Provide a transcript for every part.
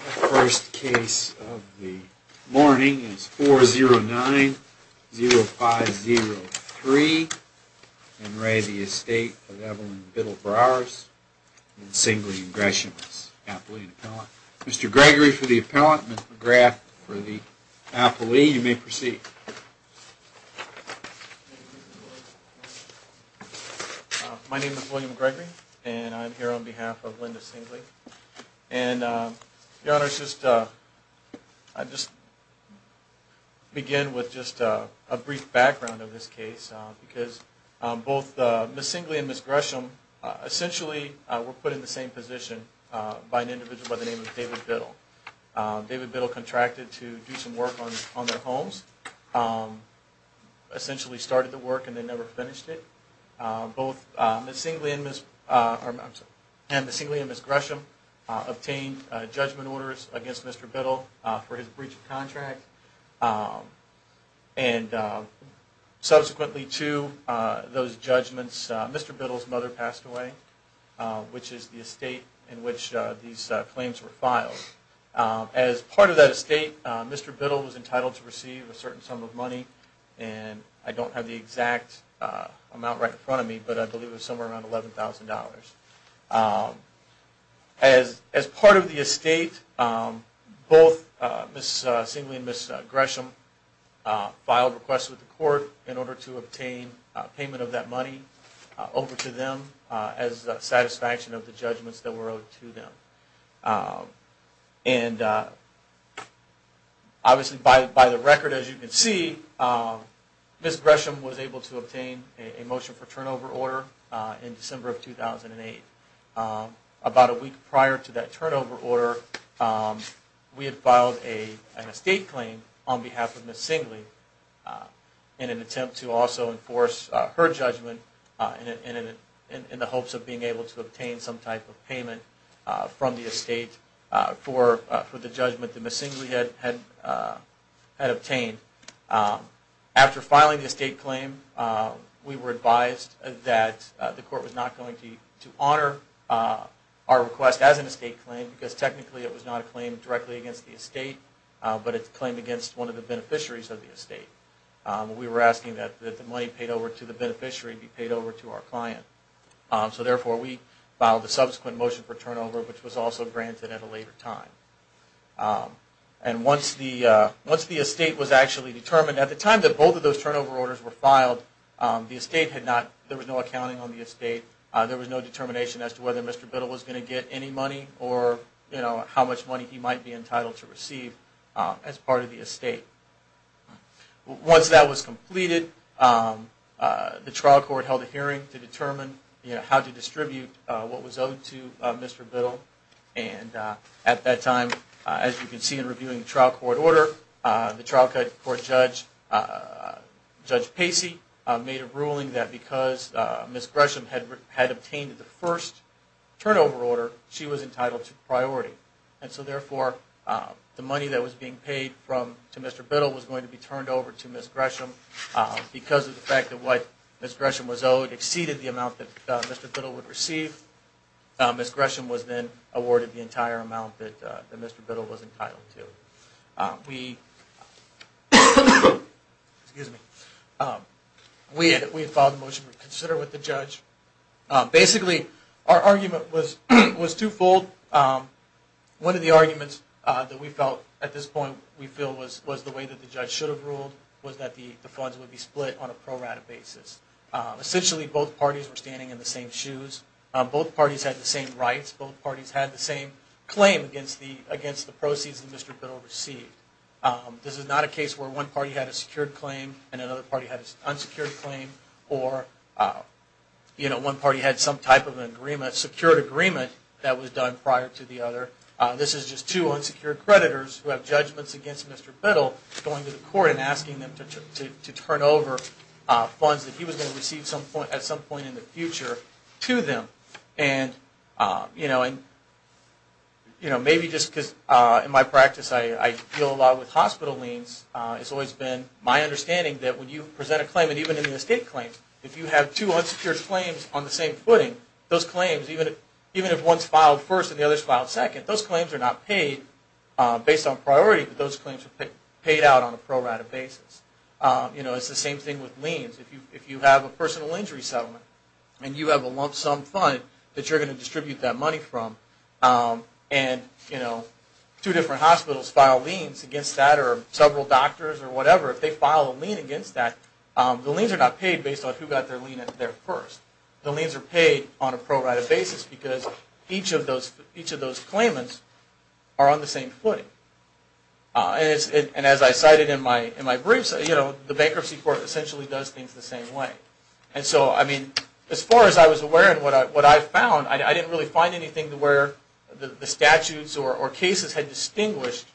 My first case of the morning is 4090503, En Re Estate of Evelyn Biddle-Broers, in singly ingressions, appellee and appellant. Mr. Gregory for the appellant, Mr. McGrath for the appellee, you may proceed. My name is William Gregory, and I'm here on behalf of Linda Singley, and Your Honor, I'd just begin with just a brief background of this case, because both Ms. Singley and Ms. Gresham essentially were put in the same position by an individual by the name of David Biddle. David Biddle contracted to do some work on their homes, essentially started the work and then never finished it. Both Ms. Singley and Ms. Gresham obtained judgment orders against Mr. Biddle for his breach of contract, and subsequently to those judgments, Mr. Biddle's mother passed away, which is the estate in which these claims were filed. As part of that estate, Mr. Biddle was entitled to receive a certain sum of money, and I don't have the exact amount right in front of me, but I believe it was somewhere around $11,000. As part of the estate, both Ms. Singley and Ms. Gresham filed requests with the court in order to obtain payment of that money over to them as satisfaction of the judgments that were owed to them. Obviously, by the record, as you can see, Ms. Gresham was able to obtain a motion for turnover order in December of 2008. About a week prior to that turnover order, we had filed an estate claim on behalf of Ms. Singley in an attempt to also enforce her judgment in the hopes of being able to obtain some type of payment from the estate for the judgment that Ms. Singley had obtained. After filing the estate claim, we were advised that the court was not going to honor our request as an estate claim because technically it was not a claim directly against the estate, but it's a claim against one of the beneficiaries of the estate. We were asking that the money paid over to the beneficiary be paid over to our client. So therefore, we filed a subsequent motion for turnover, which was also granted at a later time. And once the estate was actually determined, at the time that both of those turnover orders were filed, the estate had not, there was no accounting on the estate. There was no determination as to whether Mr. Biddle was going to get any money or how much money he might be entitled to receive as part of the estate. Once that was completed, the trial court held a hearing to determine how to distribute what was owed to Mr. Biddle. And at that time, as you can see in reviewing the trial court order, the trial court judge, Judge Pacey, made a ruling that because Ms. Gresham had obtained the first turnover order, she was entitled to priority. And so therefore, the money that was being paid to Mr. Biddle was going to be turned over to Ms. Gresham. Because of the fact that what Ms. Gresham was owed exceeded the amount that Mr. Biddle would receive, Ms. Gresham was then awarded the entire amount that Mr. Biddle was entitled to. We, excuse me, we had filed a motion to reconsider with the judge. Basically, our argument was twofold. One of the arguments that we felt at this point, we feel was the way that the judge should have ruled, was that the funds would be split on a pro rata basis. Essentially, both parties were standing in the same shoes. Both parties had the same rights. Both parties had the same claim against the proceeds that Mr. Biddle received. This is not a case where one party had a secured claim and another party had an unsecured claim or one party had some type of secured agreement that was done prior to the other. This is just two unsecured creditors who have judgments against Mr. Biddle going to the court and asking them to turn over funds that he was going to receive at some point in the future to them. And maybe just because in my practice I deal a lot with hospital liens, it's always been my understanding that when you present a claim, and even in the estate claims, if you have two unsecured claims on the same footing, those claims, even if one is filed first and the other is filed second, those claims are not paid based on priority, but those claims are paid out on a pro rata basis. It's the same thing with liens. If you have a personal injury settlement and you have a lump sum fund that you're going to distribute that money from and two different hospitals file liens against that or several doctors or whatever, if they file a lien against that, the liens are not paid based on who got their lien there first. The liens are paid on a pro rata basis because each of those claimants are on the same footing. And as I cited in my briefs, the bankruptcy court essentially does things the same way. And so, I mean, as far as I was aware and what I found, I didn't really find anything where the statutes or cases had distinguished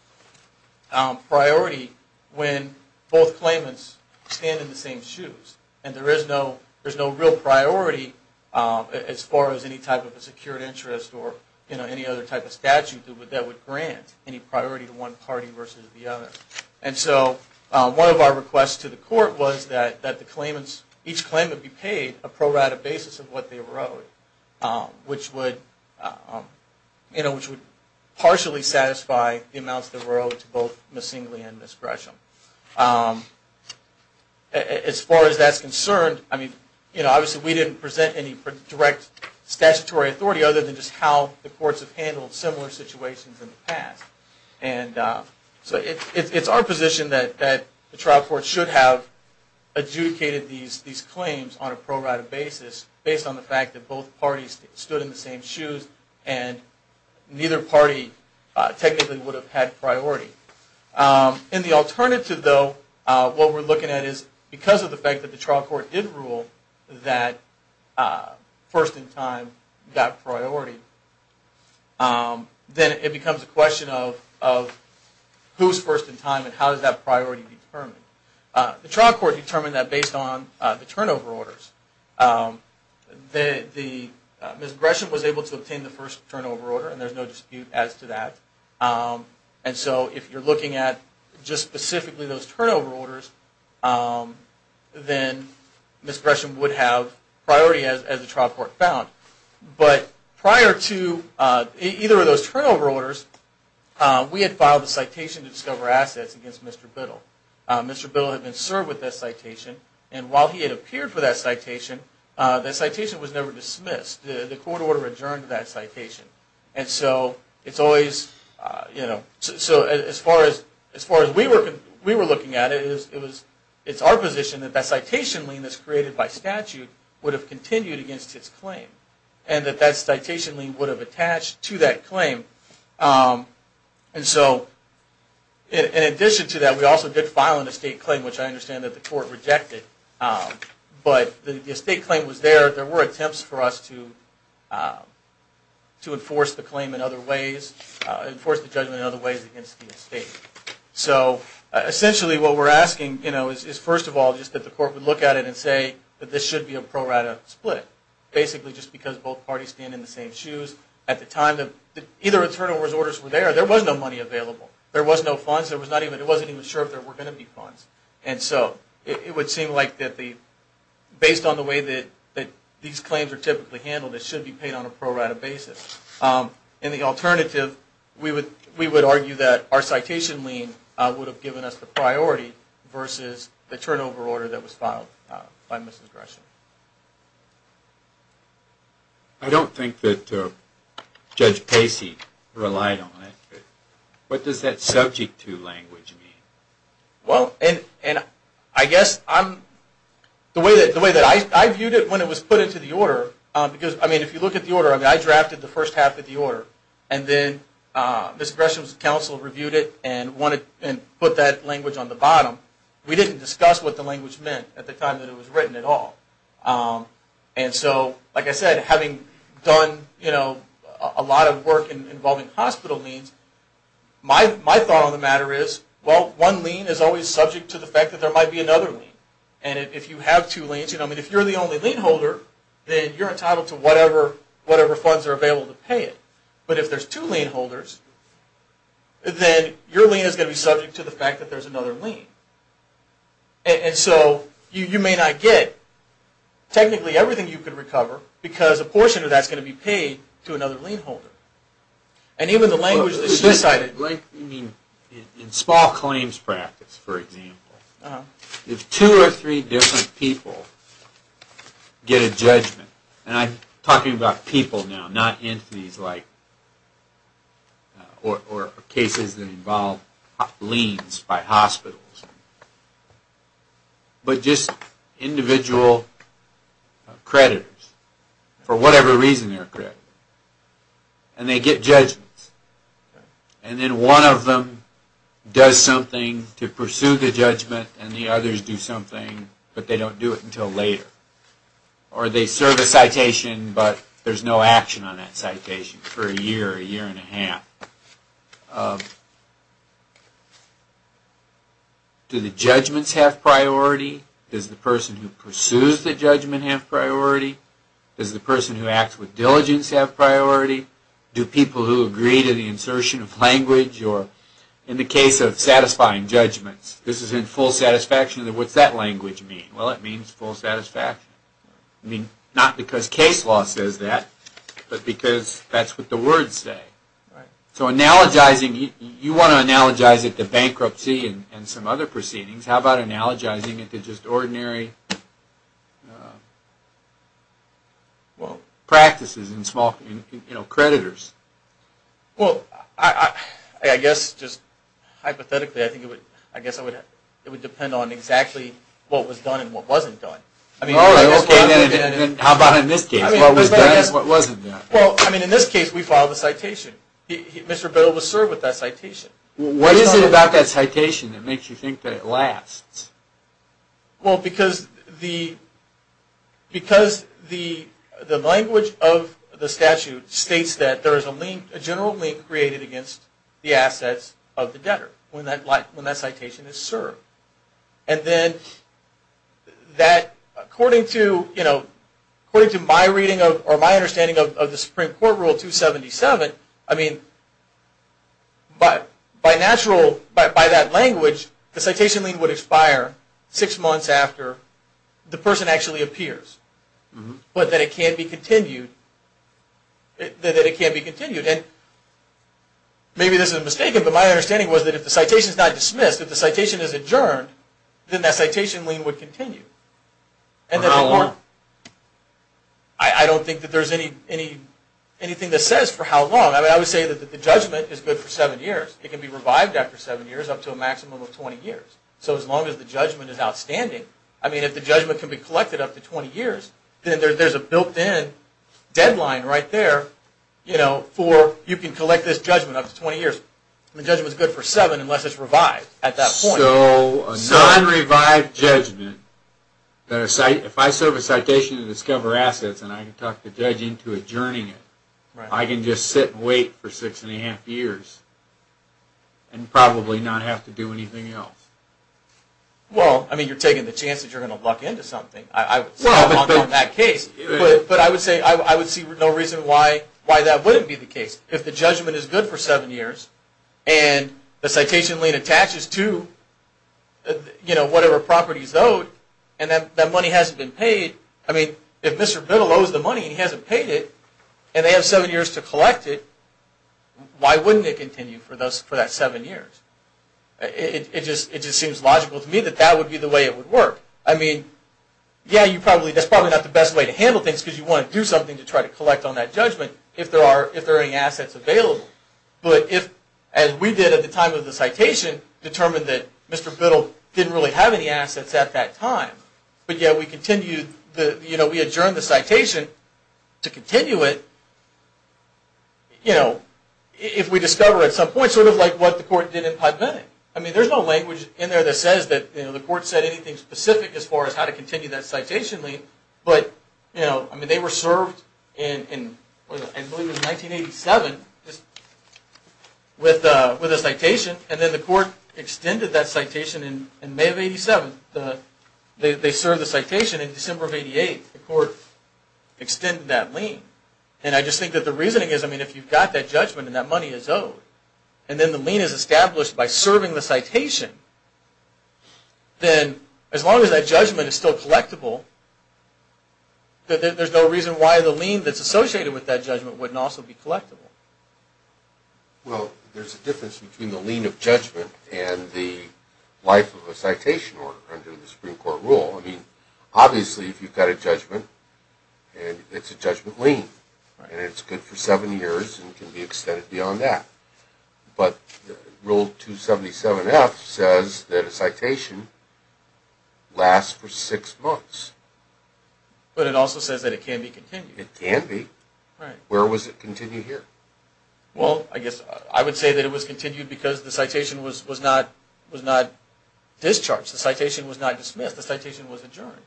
priority when both claimants stand in the same shoes and there is no real priority as far as any type of a secured interest or any other type of statute that would grant any priority to one party versus the other. And so, one of our requests to the court was that the claimants, each claim would be paid a pro rata basis of what they were owed, which would partially satisfy the amounts they were owed to both Ms. Singley and Ms. Gresham. As far as that's concerned, I mean, you know, obviously we didn't present any direct statutory authority other than just how the courts have handled similar situations in the past. And so, it's our position that the trial court should have adjudicated these claims on a pro rata basis based on the fact that both parties stood in the same shoes and neither party technically would have had priority. And the alternative, though, what we're looking at is because of the fact that the trial court did rule that first in time got priority, then it becomes a question of who's first in time and how does that priority determine? The trial court determined that based on the turnover orders. Ms. Gresham was able to obtain the first turnover order and there's no dispute as to that. And so, if you're looking at just specifically those turnover orders, then Ms. Gresham would have priority as the trial court found. But prior to either of those turnover orders, we had filed a citation to discover assets against Mr. Biddle. Mr. Biddle had been served with that citation and while he had appeared for that citation, that citation was never dismissed. The court order adjourned that citation. And so, as far as we were looking at it, it's our position that that citation lien that's created by statute would have continued against its claim. And that that citation lien would have attached to that claim. And so, in addition to that, we also did file an estate claim, which I understand that the court rejected. But the estate claim was there. There were attempts for us to enforce the claim in other ways, enforce the judgment in other ways against the estate. So, essentially what we're asking, you know, is first of all, just that the court would look at it and say that this should be a pro-rata split. Basically, just because both parties stand in the same shoes. At the time that either of the turnover orders were there, there was no money available. There was no funds. It wasn't even sure if there were going to be funds. And so, it would seem like that based on the way that these claims are typically handled, it should be paid on a pro-rata basis. And the alternative, we would argue that our citation lien would have given us the priority versus the turnover order that was filed by Mrs. Gresham. I don't think that Judge Pacey relied on it. What does that subject to language mean? Well, and I guess the way that I viewed it when it was put into the order, because, I mean, if you look at the order, I mean, I drafted the first half of the order. And then Mrs. Gresham's counsel reviewed it and put that language on the bottom. We didn't discuss what the language meant at the time that it was written at all. And so, like I said, having done a lot of work involving hospital liens, my thought on the matter is, well, one lien is always subject to the fact that there might be another lien. And if you have two liens, I mean, if you're the only lien holder, then you're entitled to whatever funds are available to pay it. But if there's two lien holders, then your lien is going to be subject to the fact that there's another lien. And so you may not get technically everything you could recover, because a portion of that's going to be paid to another lien holder. And even the language that she cited... In small claims practice, for example, if two or three different people get a judgment, and I'm talking about people now, not entities like... Or cases that involve liens by hospitals. But just individual creditors, for whatever reason they're accredited. And they get judgments. And then one of them does something to pursue the judgment, and the others do something, but they don't do it until later. Or they serve a citation, but there's no action on that citation for a year, a year and a half. Do the judgments have priority? Does the person who pursues the judgment have priority? Does the person who acts with diligence have priority? Do people who agree to the insertion of language, or in the case of satisfying judgments, this is in full satisfaction? What's that language mean? Well, it means full satisfaction. Not because case law says that, but because that's what the words say. So you want to analogize it to bankruptcy and some other proceedings. How about analogizing it to just ordinary practices in small creditors? Well, I guess just hypothetically, I guess it would depend on exactly what was done and what wasn't done. Okay, then how about in this case? What was done is what wasn't done. Well, I mean, in this case, we filed a citation. Mr. Biddle was served with that citation. What is it about that citation that makes you think that it lasts? Well, because the language of the statute states that there is a general lien created against the assets of the debtor when that citation is served. And then, according to my understanding of the Supreme Court Rule 277, I mean, by that language, the citation lien would expire six months after the person actually appears. But then it can't be continued. Maybe this is mistaken, but my understanding was that if the citation is not dismissed, if the citation is adjourned, then that citation lien would continue. For how long? I don't think that there's anything that says for how long. I mean, I would say that the judgment is good for seven years. It can be revived after seven years up to a maximum of 20 years. So as long as the judgment is outstanding, I mean, if the judgment can be collected up to 20 years, then there's a built-in deadline right there for you can collect this judgment up to 20 years. The judgment is good for seven unless it's revived at that point. So a non-revived judgment, if I serve a citation to discover assets and I can talk the judge into adjourning it, I can just sit and wait for six and a half years and probably not have to do anything else. Well, I mean, you're taking the chance that you're going to luck into something. I'm not on that case. But I would say I would see no reason why that wouldn't be the case. If the judgment is good for seven years and the citation lien attaches to whatever properties owed and that money hasn't been paid, I mean, if Mr. Biddle owes the money and he hasn't paid it and they have seven years to collect it, why wouldn't it continue for that seven years? It just seems logical to me that that would be the way it would work. I mean, yeah, that's probably not the best way to handle things because you want to do something to try to collect on that judgment if there are any assets available. But if, as we did at the time of the citation, determined that Mr. Biddle didn't really have any assets at that time, but yet we adjourned the citation to continue it, if we discover at some point sort of like what the court did in Padme. I mean, there's no language in there that says that the court said anything specific as far as how to continue that citation lien. But they were served in, I believe it was 1987, with a citation. And then the court extended that citation in May of 87. They served the citation in December of 88. The court extended that lien. And I just think that the reasoning is, I mean, if you've got that judgment and that money is owed, and then the lien is established by serving the citation, then as long as that judgment is still collectible, there's no reason why the lien that's associated with that judgment wouldn't also be collectible. Well, there's a difference between the lien of judgment and the life of a citation under the Supreme Court rule. I mean, obviously, if you've got a judgment and it's a judgment lien, and it's good for seven years and can be extended beyond that. But Rule 277F says that a citation lasts for six months. But it also says that it can be continued. It can be. Where was it continued here? Well, I guess I would say that it was continued because the citation was not discharged. The citation was not dismissed. The citation was adjourned.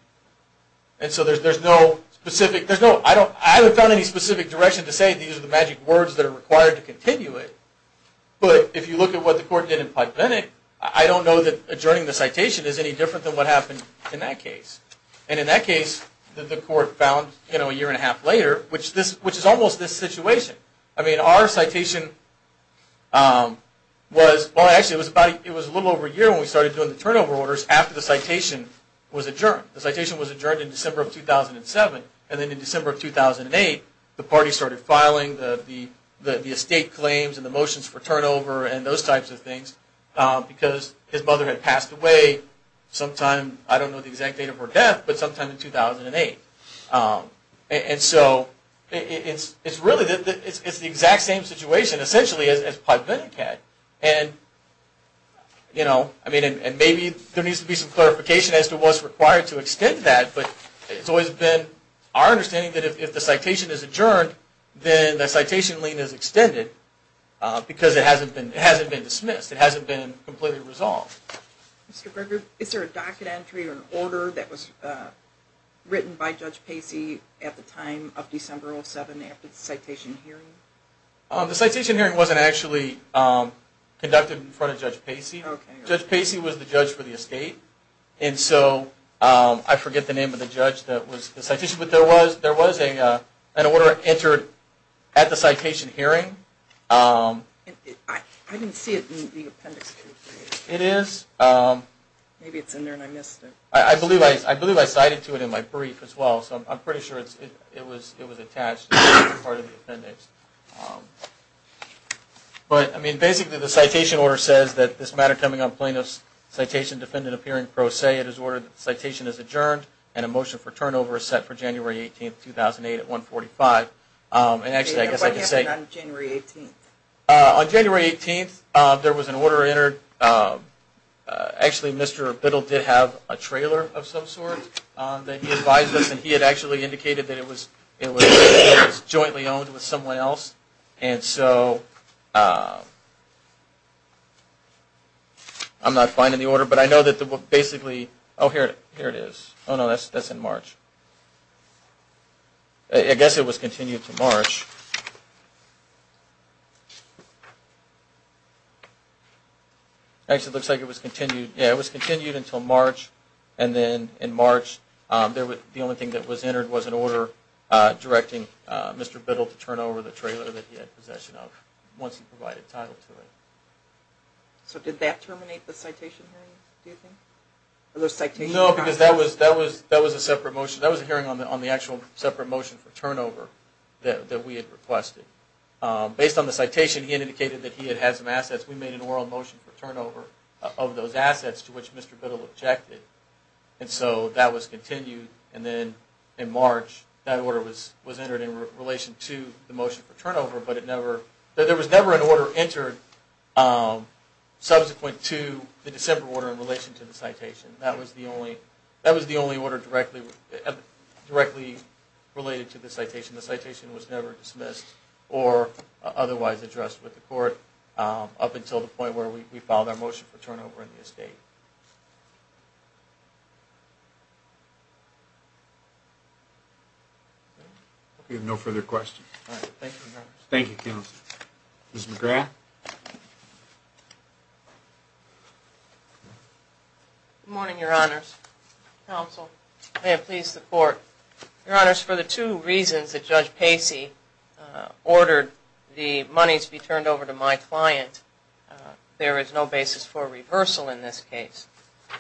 And so there's no specific. I haven't found any specific direction to say these are the magic words that are required to continue it. But if you look at what the court did in Pike-Bennett, I don't know that adjourning the citation is any different than what happened in that case. And in that case, the court found a year and a half later, which is almost this situation. I mean, our citation was, well, actually, it was a little over a year when we started doing the turnover orders after the citation was adjourned. The citation was adjourned in December of 2007. And then in December of 2008, the party started filing the estate claims and the motions for turnover and those types of things because his mother had passed away sometime, I don't know the exact date of her death, but sometime in 2008. And so it's really the exact same situation, essentially, as Pike-Bennett had. And, you know, I mean, and maybe there needs to be some clarification as to what's required to extend that. But it's always been our understanding that if the citation is adjourned, then the citation lien is extended because it hasn't been dismissed. It hasn't been completely resolved. Mr. Brigger, is there a docket entry or an order that was written by Judge Pacey at the time of December of 2007 after the citation hearing? The citation hearing wasn't actually conducted in front of Judge Pacey. Judge Pacey was the judge for the estate. And so I forget the name of the judge that was the citation. But there was an order entered at the citation hearing. I didn't see it in the appendix. It is. Maybe it's in there and I missed it. I believe I cited to it in my brief as well. So I'm pretty sure it was attached to part of the appendix. But, I mean, basically the citation order says that this matter coming on plaintiff's citation, defendant appearing pro se, it is ordered that the citation is adjourned and a motion for turnover is set for January 18, 2008 at 145. And actually, I guess I could say... What happened on January 18th? On January 18th, there was an order entered. Actually, Mr. Biddle did have a trailer of some sort that he advised us and he had actually indicated that it was jointly owned with someone else. And so I'm not finding the order, but I know that basically... Oh, here it is. Oh, no, that's in March. I guess it was continued to March. Actually, it looks like it was continued until March. And then in March, the only thing that was entered was an order directing Mr. Biddle to turn over the trailer that he had possession of once he provided title to it. So did that terminate the citation hearing, do you think? No, because that was a separate motion. That was a hearing on the actual separate motion for turnover that we had requested. Based on the citation, he indicated that he had had some assets. We made an oral motion for turnover of those assets to which Mr. Biddle objected. And so that was continued. And then in March, that order was entered in relation to the motion for turnover, but there was never an order entered subsequent to the December order in relation to the citation. That was the only order directly related to the citation. The citation was never dismissed or otherwise addressed with the court up until the point where we filed our motion for turnover in the estate. We have no further questions. Thank you, Counsel. Thank you, Counsel. Ms. McGrath? Good morning, Your Honors. Counsel, may it please the Court. Your Honors, for the two reasons that Judge Pacey ordered the money to be turned over to my client, there is no basis for reversal in this case.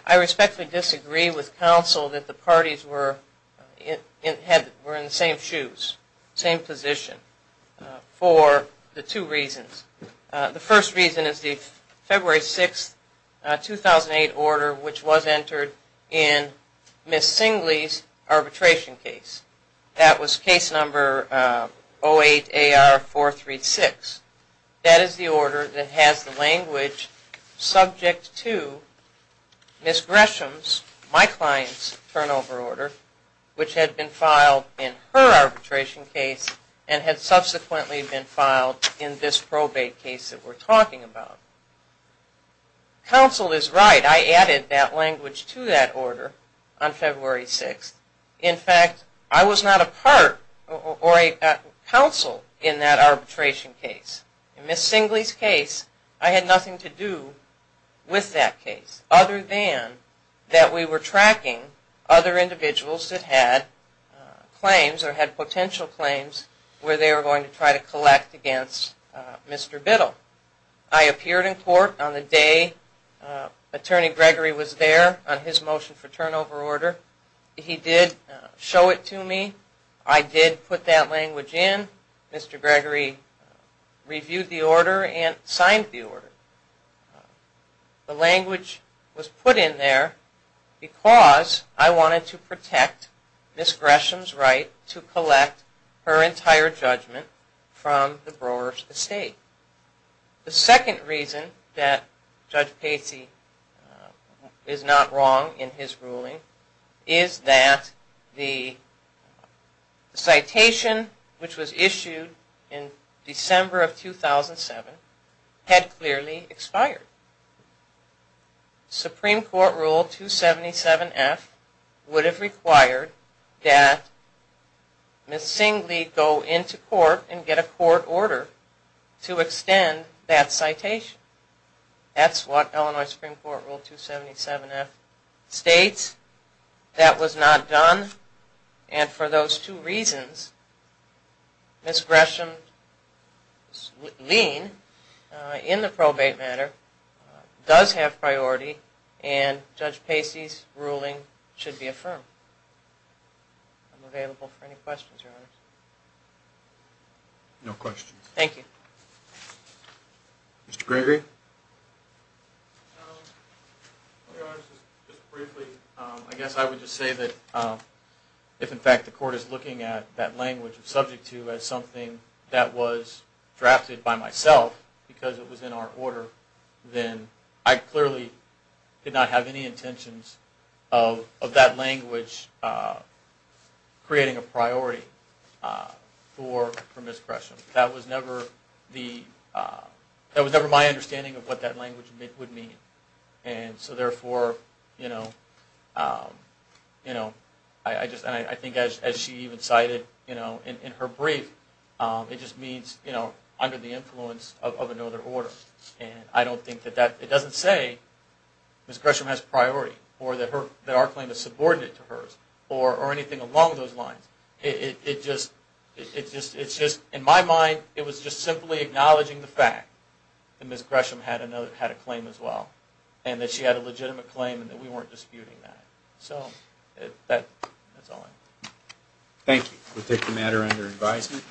I respectfully disagree with Counsel that the parties were in the same shoes, same position, for the two reasons. The first reason is the February 6, 2008 order, which was entered in Ms. Singley's arbitration case. That was case number 08AR436. That is the order that has the language subject to Ms. Gresham's, my client's turnover order, which had been filed in her arbitration case and had subsequently been filed in this probate case that we're talking about. Counsel is right. I added that language to that order on February 6. In fact, I was not a part or a counsel in that arbitration case. In Ms. Singley's case, I had nothing to do with that case other than that we were to try to collect against Mr. Biddle. I appeared in court on the day Attorney Gregory was there on his motion for turnover order. He did show it to me. I did put that language in. Mr. Gregory reviewed the order and signed the order. The language was put in there because I wanted to protect Ms. Gresham's right to collect her entire judgment from the Brewer's estate. The second reason that Judge Pacey is not wrong in his ruling is that the citation, which was issued in December of 2007, had clearly expired. Supreme Court Rule 277F would have required that Ms. Singley go into court and get a court order to extend that citation. That's what Illinois Supreme Court Rule 277F states. That was not done. For those two reasons, Ms. Gresham's lien in the probate matter does have priority and Judge Pacey's ruling should be affirmed. I'm available for any questions, Your Honors. No questions. Thank you. Mr. Gregory? Your Honors, just briefly, I guess I would just say that if, in fact, the court is looking at that language subject to as something that was drafted by myself because it was in our order, then I clearly did not have any intentions of that language creating a priority for Ms. Gresham. That was never my understanding of what that language would mean. And so, therefore, I think as she even cited in her brief, it just means under the influence of another order. And I don't think that that doesn't say Ms. Gresham has priority or that our claim is subordinate to hers or anything along those lines. In my mind, it was just simply acknowledging the fact that Ms. Gresham had a claim as well and that she had a legitimate claim and that we weren't disputing that. So, that's all I have. Thank you. We'll take the matter under advisement.